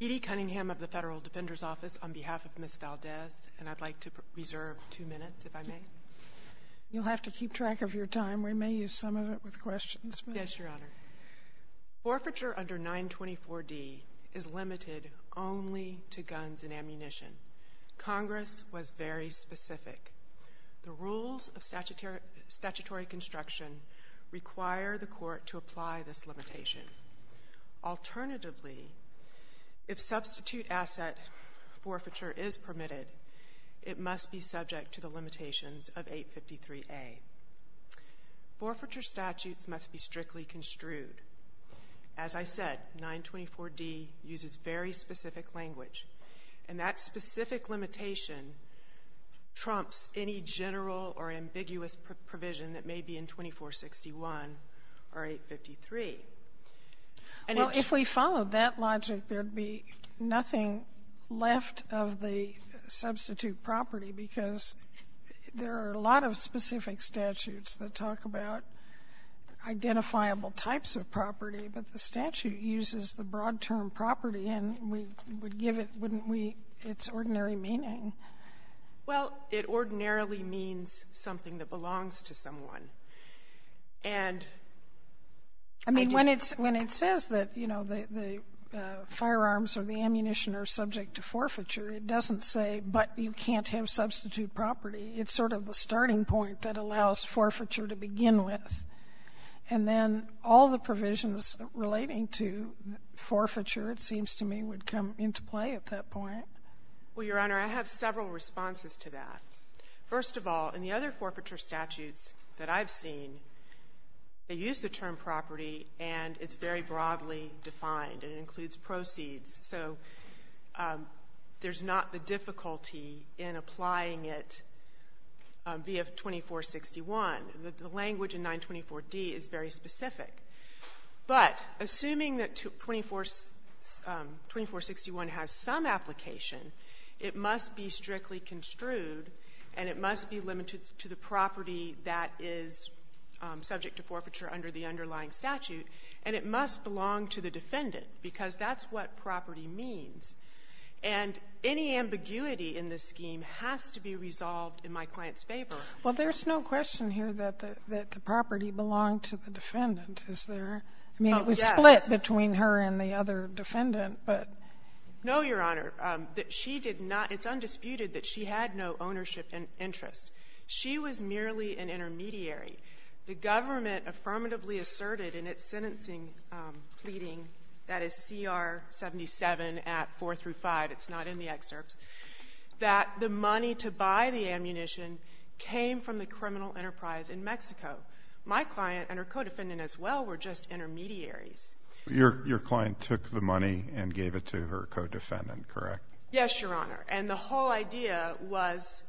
Edie Cunningham of the Federal Defender's Office on behalf of Ms. Valdez, and I'd like to reserve two minutes, if I may. You'll have to keep track of your time. We may use some of it with questions. Yes, Your Honor. Forfeiture under 924d is limited only to guns and ammunition. Congress was very specific. The rules of statutory construction require the court to apply this alternatively, if substitute asset forfeiture is permitted, it must be subject to the limitations of 853a. Forfeiture statutes must be strictly construed. As I said, 924d uses very specific language, and that specific limitation trumps any general or ambiguous provision that may be in 924d, 92461, or 853. And it's — Well, if we followed that logic, there'd be nothing left of the substitute property, because there are a lot of specific statutes that talk about identifiable types of property, but the statute uses the broad-term property, and we would give it, wouldn't we, its ordinary meaning? Well, it ordinarily means something that belongs to someone. And I do — I mean, when it's — when it says that, you know, the firearms or the ammunition are subject to forfeiture, it doesn't say, but you can't have substitute property. It's sort of the starting point that allows forfeiture to begin with. And then all the provisions relating to forfeiture, it seems to me, would come into play at that point. Well, Your Honor, I have several responses to that. First of all, in the other forfeiture statutes that I've seen, they use the term property, and it's very broadly defined. It includes proceeds. So there's not the difficulty in applying it via 2461. The language in 924d is very specific. But assuming that 24 — 2461 has some application, it must be strictly construed, and it must be limited to the property that is subject to forfeiture under the underlying statute, and it must belong to the defendant, because that's what property means. And any ambiguity in this scheme has to be resolved in my client's favor. Well, there's no question here that the property belonged to the defendant, is there? Oh, yes. I mean, it was split between her and the other defendant, but — No, Your Honor. That she did not — it's undisputed that she had no ownership interest. She was merely an intermediary. The government affirmatively asserted in its sentencing pleading — that is, CR 77 at 4 through 5, it's not in the excerpts — that the money to buy the ammunition came from the criminal enterprise in Mexico. My client and her co-defendant, as well, were just intermediaries. Your client took the money and gave it to her co-defendant, correct? Yes, Your Honor. And the whole idea was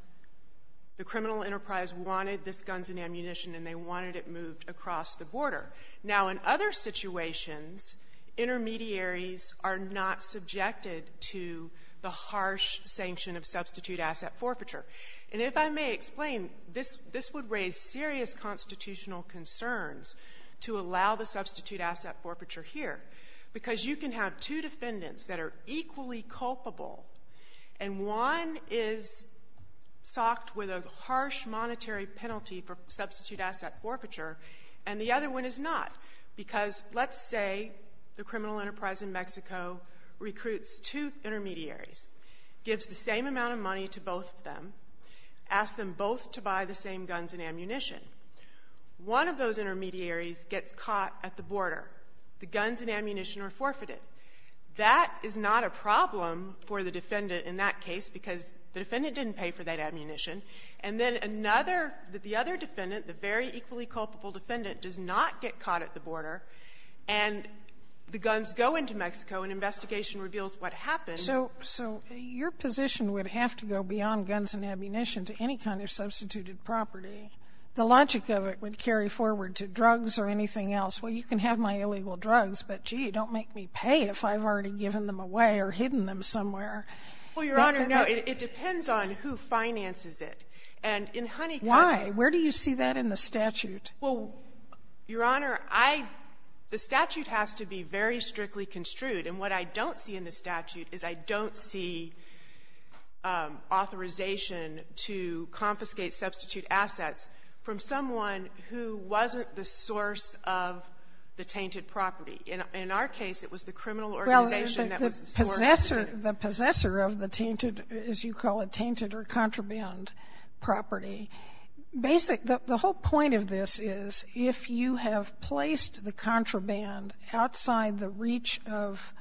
the criminal enterprise wanted this guns and ammunition and they wanted it moved across the border. Now, in other situations, intermediaries are not subjected to the harsh sanction of substitute asset forfeiture. And if I may explain, this would raise serious constitutional concerns to allow the substitute asset forfeiture here, because you can have two defendants that are equally culpable and one is socked with a harsh monetary penalty for substitute asset forfeiture and the other one is not. Because let's say the criminal enterprise in Mexico recruits two intermediaries, gives the same amount of money to both of them, asks them both to buy the same guns and ammunition. One of those intermediaries gets caught at the border. The guns and ammunition are forfeited. That is not a problem for the defendant in that case, because the defendant didn't pay for that ammunition. And then another the other defendant, the very equally culpable defendant, does not get caught at the border, and the guns go into Mexico and investigation reveals what happened. So your position would have to go beyond guns and ammunition to any kind of substituted property. The logic of it would carry forward to drugs or anything else. Well, you can have my illegal drugs, but, gee, don't make me pay if I've already given them away or hidden them somewhere. Well, Your Honor, no. It depends on who finances it. And in Honeycutt ---- Why? Where do you see that in the statute? Well, Your Honor, I the statute has to be very strictly construed. And what I don't see in the statute is I don't see authorization to confiscate or substitute assets from someone who wasn't the source of the tainted property. In our case, it was the criminal organization that was the source. Well, the possessor of the tainted, as you call it, tainted or contraband property, basic the whole point of this is if you have placed the contraband outside the reach of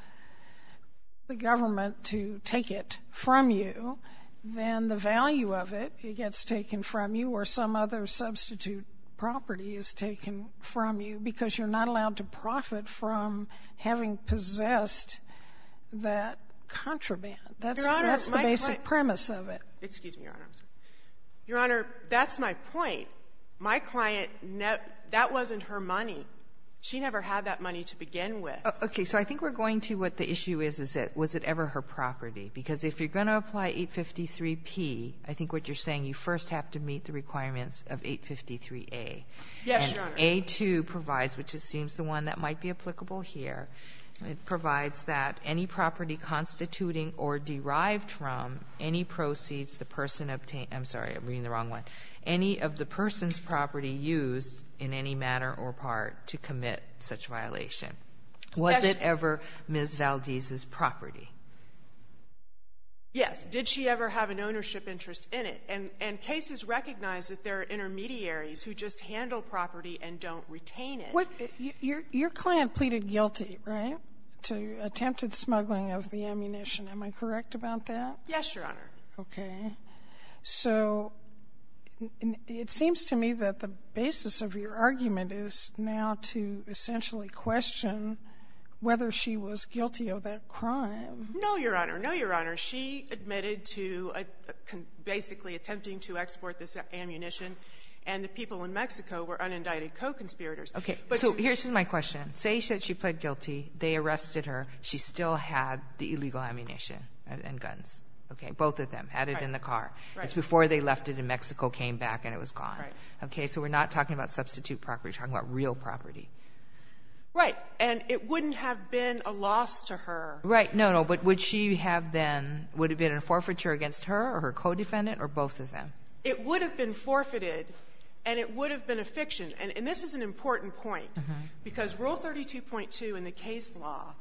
the government to take it from you, then the value of it, it gets taken from you or some other substitute property is taken from you because you're not allowed to profit from having possessed that contraband. That's the basic premise of it. Excuse me, Your Honor. Your Honor, that's my point. My client, that wasn't her money. She never had that money to begin with. Okay. So I think we're going to what the issue is, is that was it ever her property? Because if you're going to apply 853P, I think what you're saying, you first have to meet the requirements of 853A. Yes, Your Honor. And A-2 provides, which it seems the one that might be applicable here, it provides that any property constituting or derived from any proceeds the person obtained the wrong one, any of the person's property used in any manner or part to commit such a violation, was it ever Ms. Valdez's property? Yes. Did she ever have an ownership interest in it? And cases recognize that there are intermediaries who just handle property and don't retain it. What you're your client pleaded guilty, right, to attempted smuggling of the ammunition. Am I correct about that? Yes, Your Honor. Okay. So it seems to me that the basis of your argument is now to essentially question whether she was guilty of that crime. No, Your Honor. No, Your Honor. She admitted to basically attempting to export this ammunition, and the people in Mexico were unindicted co-conspirators. Okay. So here's my question. Say she pled guilty, they arrested her. She still had the illegal ammunition and guns. Okay. Both of them. Had it in the car. Right. It's before they left it in Mexico, came back, and it was gone. Right. Okay. So we're not talking about substitute property. We're talking about real property. Right. And it wouldn't have been a loss to her. Right. No, no. But would she have then, would it have been a forfeiture against her or her co-defendant or both of them? It would have been forfeited, and it would have been a fiction. And this is an important point, because Rule 32.2 in the case law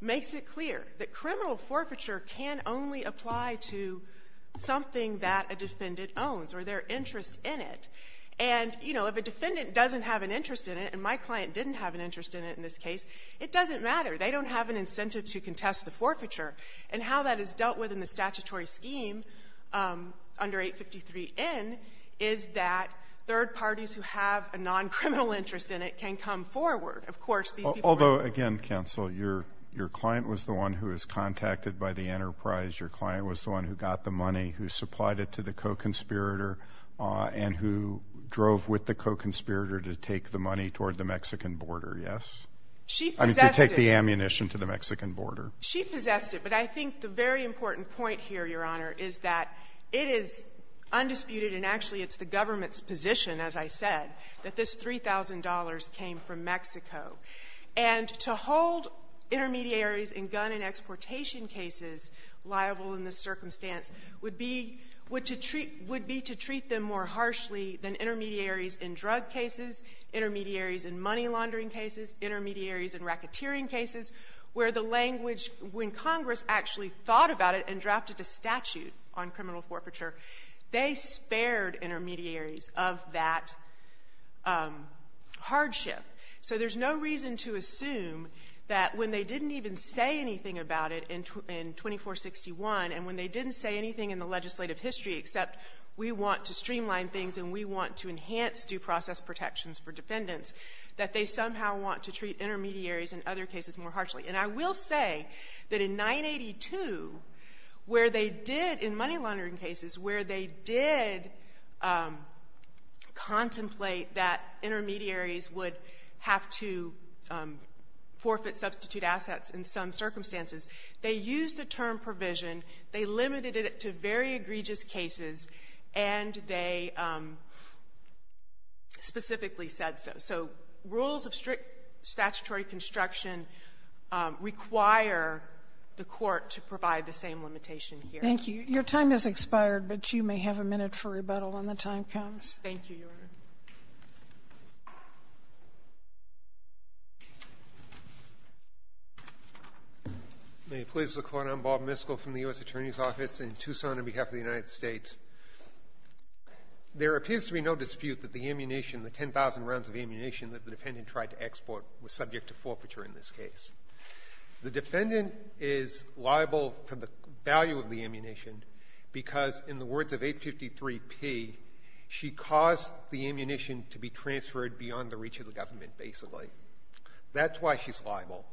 makes it clear that criminal forfeiture can only apply to something that a defendant owns or their interest in it. And, you know, if a defendant doesn't have an interest in it, and my client didn't have an interest in it in this case, it doesn't matter. They don't have an incentive to contest the forfeiture. And how that is dealt with in the statutory scheme under 853N is that third parties who have a non-criminal interest in it can come forward. Of course, these people are going to be. Although, again, counsel, your client was the one who was contacted by the enterprise. Your client was the one who got the money, who supplied it to the co-conspirator, and who drove with the co-conspirator to take the money toward the Mexican border, yes? I mean, to take the ammunition to the Mexican border. She possessed it. But I think the very important point here, Your Honor, is that it is undisputed and actually it's the government's position, as I said, that this $3,000 came from Mexico. And to hold intermediaries in gun and exportation cases liable in this circumstance would be to treat them more harshly than intermediaries in drug cases, intermediaries in money laundering cases, intermediaries in racketeering cases, where the language when Congress actually thought about it and drafted a statute on criminal forfeiture, they spared intermediaries of that hardship. So there's no reason to assume that when they didn't even say anything about it in 2461, and when they didn't say anything in the legislative history, except we want to streamline things and we want to enhance due process protections for defendants, that they somehow want to treat intermediaries in other cases more harshly. And I will say that in 982, where they did, in money laundering cases, where they did contemplate that intermediaries would have to forfeit substitute assets in some circumstances, they used the term provision, they limited it to very egregious cases, and they specifically said so. So rules of strict statutory construction require the Court to provide the same limitation here. Sotomayor, your time has expired, but you may have a minute for rebuttal when the time comes. Thank you, Your Honor. May it please the Court. I'm Bob Miskell from the U.S. Attorney's Office in Tucson on behalf of the United States. There appears to be no dispute that the ammunition, the 10,000 rounds of ammunition that the defendant tried to export was subject to forfeiture in this case. The defendant is liable for the value of the ammunition because in the words of 853 P, she caused the ammunition to be transferred beyond the reach of the government, basically. That's why she's liable.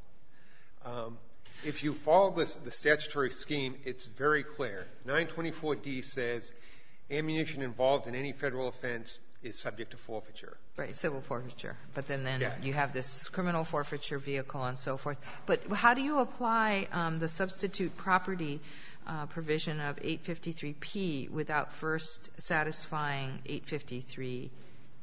If you follow the statutory scheme, it's very clear. 924 D says ammunition involved in any Federal offense is subject to forfeiture. Right, civil forfeiture. But then you have this criminal forfeiture vehicle and so forth. But how do you apply the substitute property provision of 853 P without first satisfying 853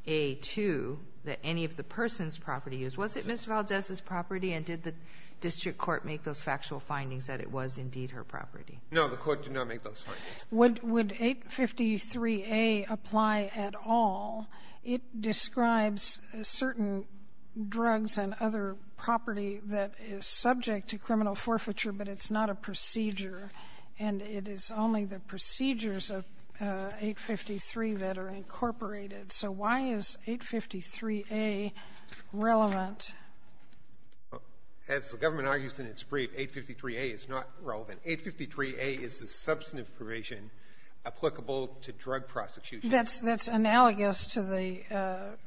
A, too, that any of the person's property is? Was it Ms. Valdez's property, and did the district court make those factual findings that it was indeed her property? No, the court did not make those findings. Would 853 A apply at all? It describes certain drugs and other property that is subject to criminal forfeiture, but it's not a procedure. And it is only the procedures of 853 that are incorporated. So why is 853 A relevant? As the government argues in its brief, 853 A is not relevant. 853 A is a substantive provision applicable to drug prosecution. That's analogous to the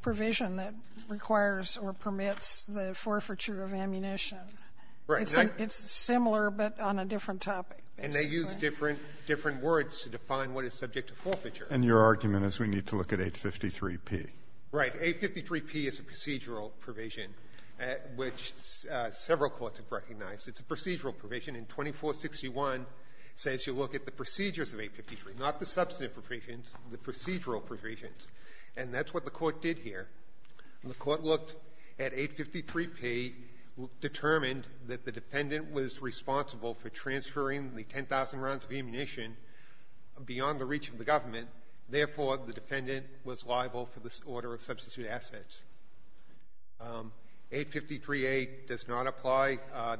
provision that requires or permits the forfeiture of ammunition. Right. It's similar, but on a different topic. And they use different words to define what is subject to forfeiture. And your argument is we need to look at 853 P. Right. 853 P is a procedural provision, which several courts have recognized. It's a procedural provision, and 2461 says you look at the procedures of 853, not the substantive provisions, the procedural provisions. And that's what the court did here. The court looked at 853 P, determined that the defendant was responsible for transferring the 10,000 rounds of ammunition beyond the reach of the government. Therefore, the defendant was liable for this order of substitute assets. 853 A does not apply.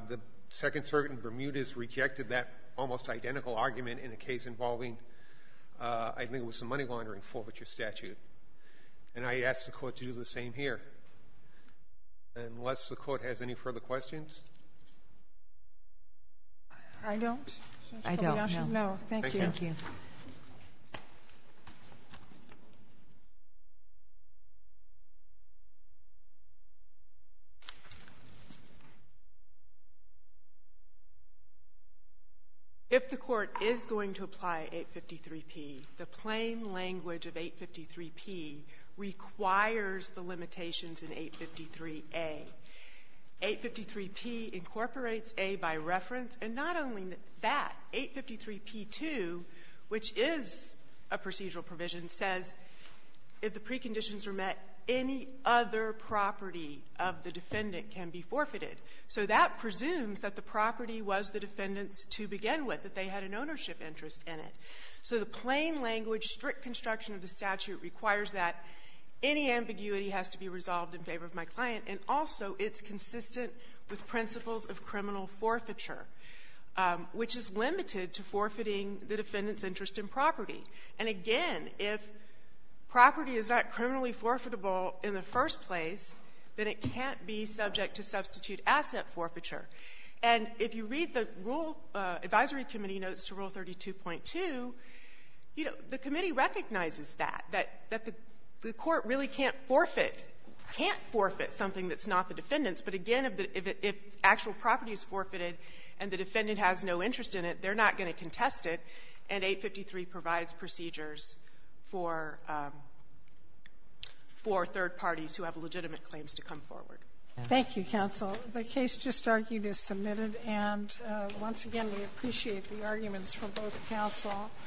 The Second Circuit in Bermuda has rejected that almost identical argument in a case involving, I think it was the money laundering forfeiture statute. And I ask the Court to do the same here. Unless the Court has any further questions? I don't. I don't, no. Thank you. Thank you. If the Court is going to apply 853 P, the plain language of 853 P requires the limitations in 853 A. 853 P incorporates A by reference. And not only that, 853 P2, which is a procedural provision, says if the preconditions are met, any other property of the defendant can be forfeited. So that presumes that the property was the defendant's to begin with, that they had an ownership interest in it. So the plain language, strict construction of the statute requires that any ambiguity has to be resolved in favor of my client, and also it's consistent with principles of criminal forfeiture. Which is limited to forfeiting the defendant's interest in property. And again, if property is not criminally forfeitable in the first place, then it can't be subject to substitute asset forfeiture. And if you read the Rule Advisory Committee notes to Rule 32.2, you know, the committee recognizes that, that the Court really can't forfeit, can't forfeit something that's not the defendant's. But again, if actual property is forfeited and the defendant has no interest in it, they're not going to contest it, and 853 provides procedures for third parties who have legitimate claims to come forward. Thank you, counsel. The case just argued is submitted. And once again, we appreciate the arguments from both counsel.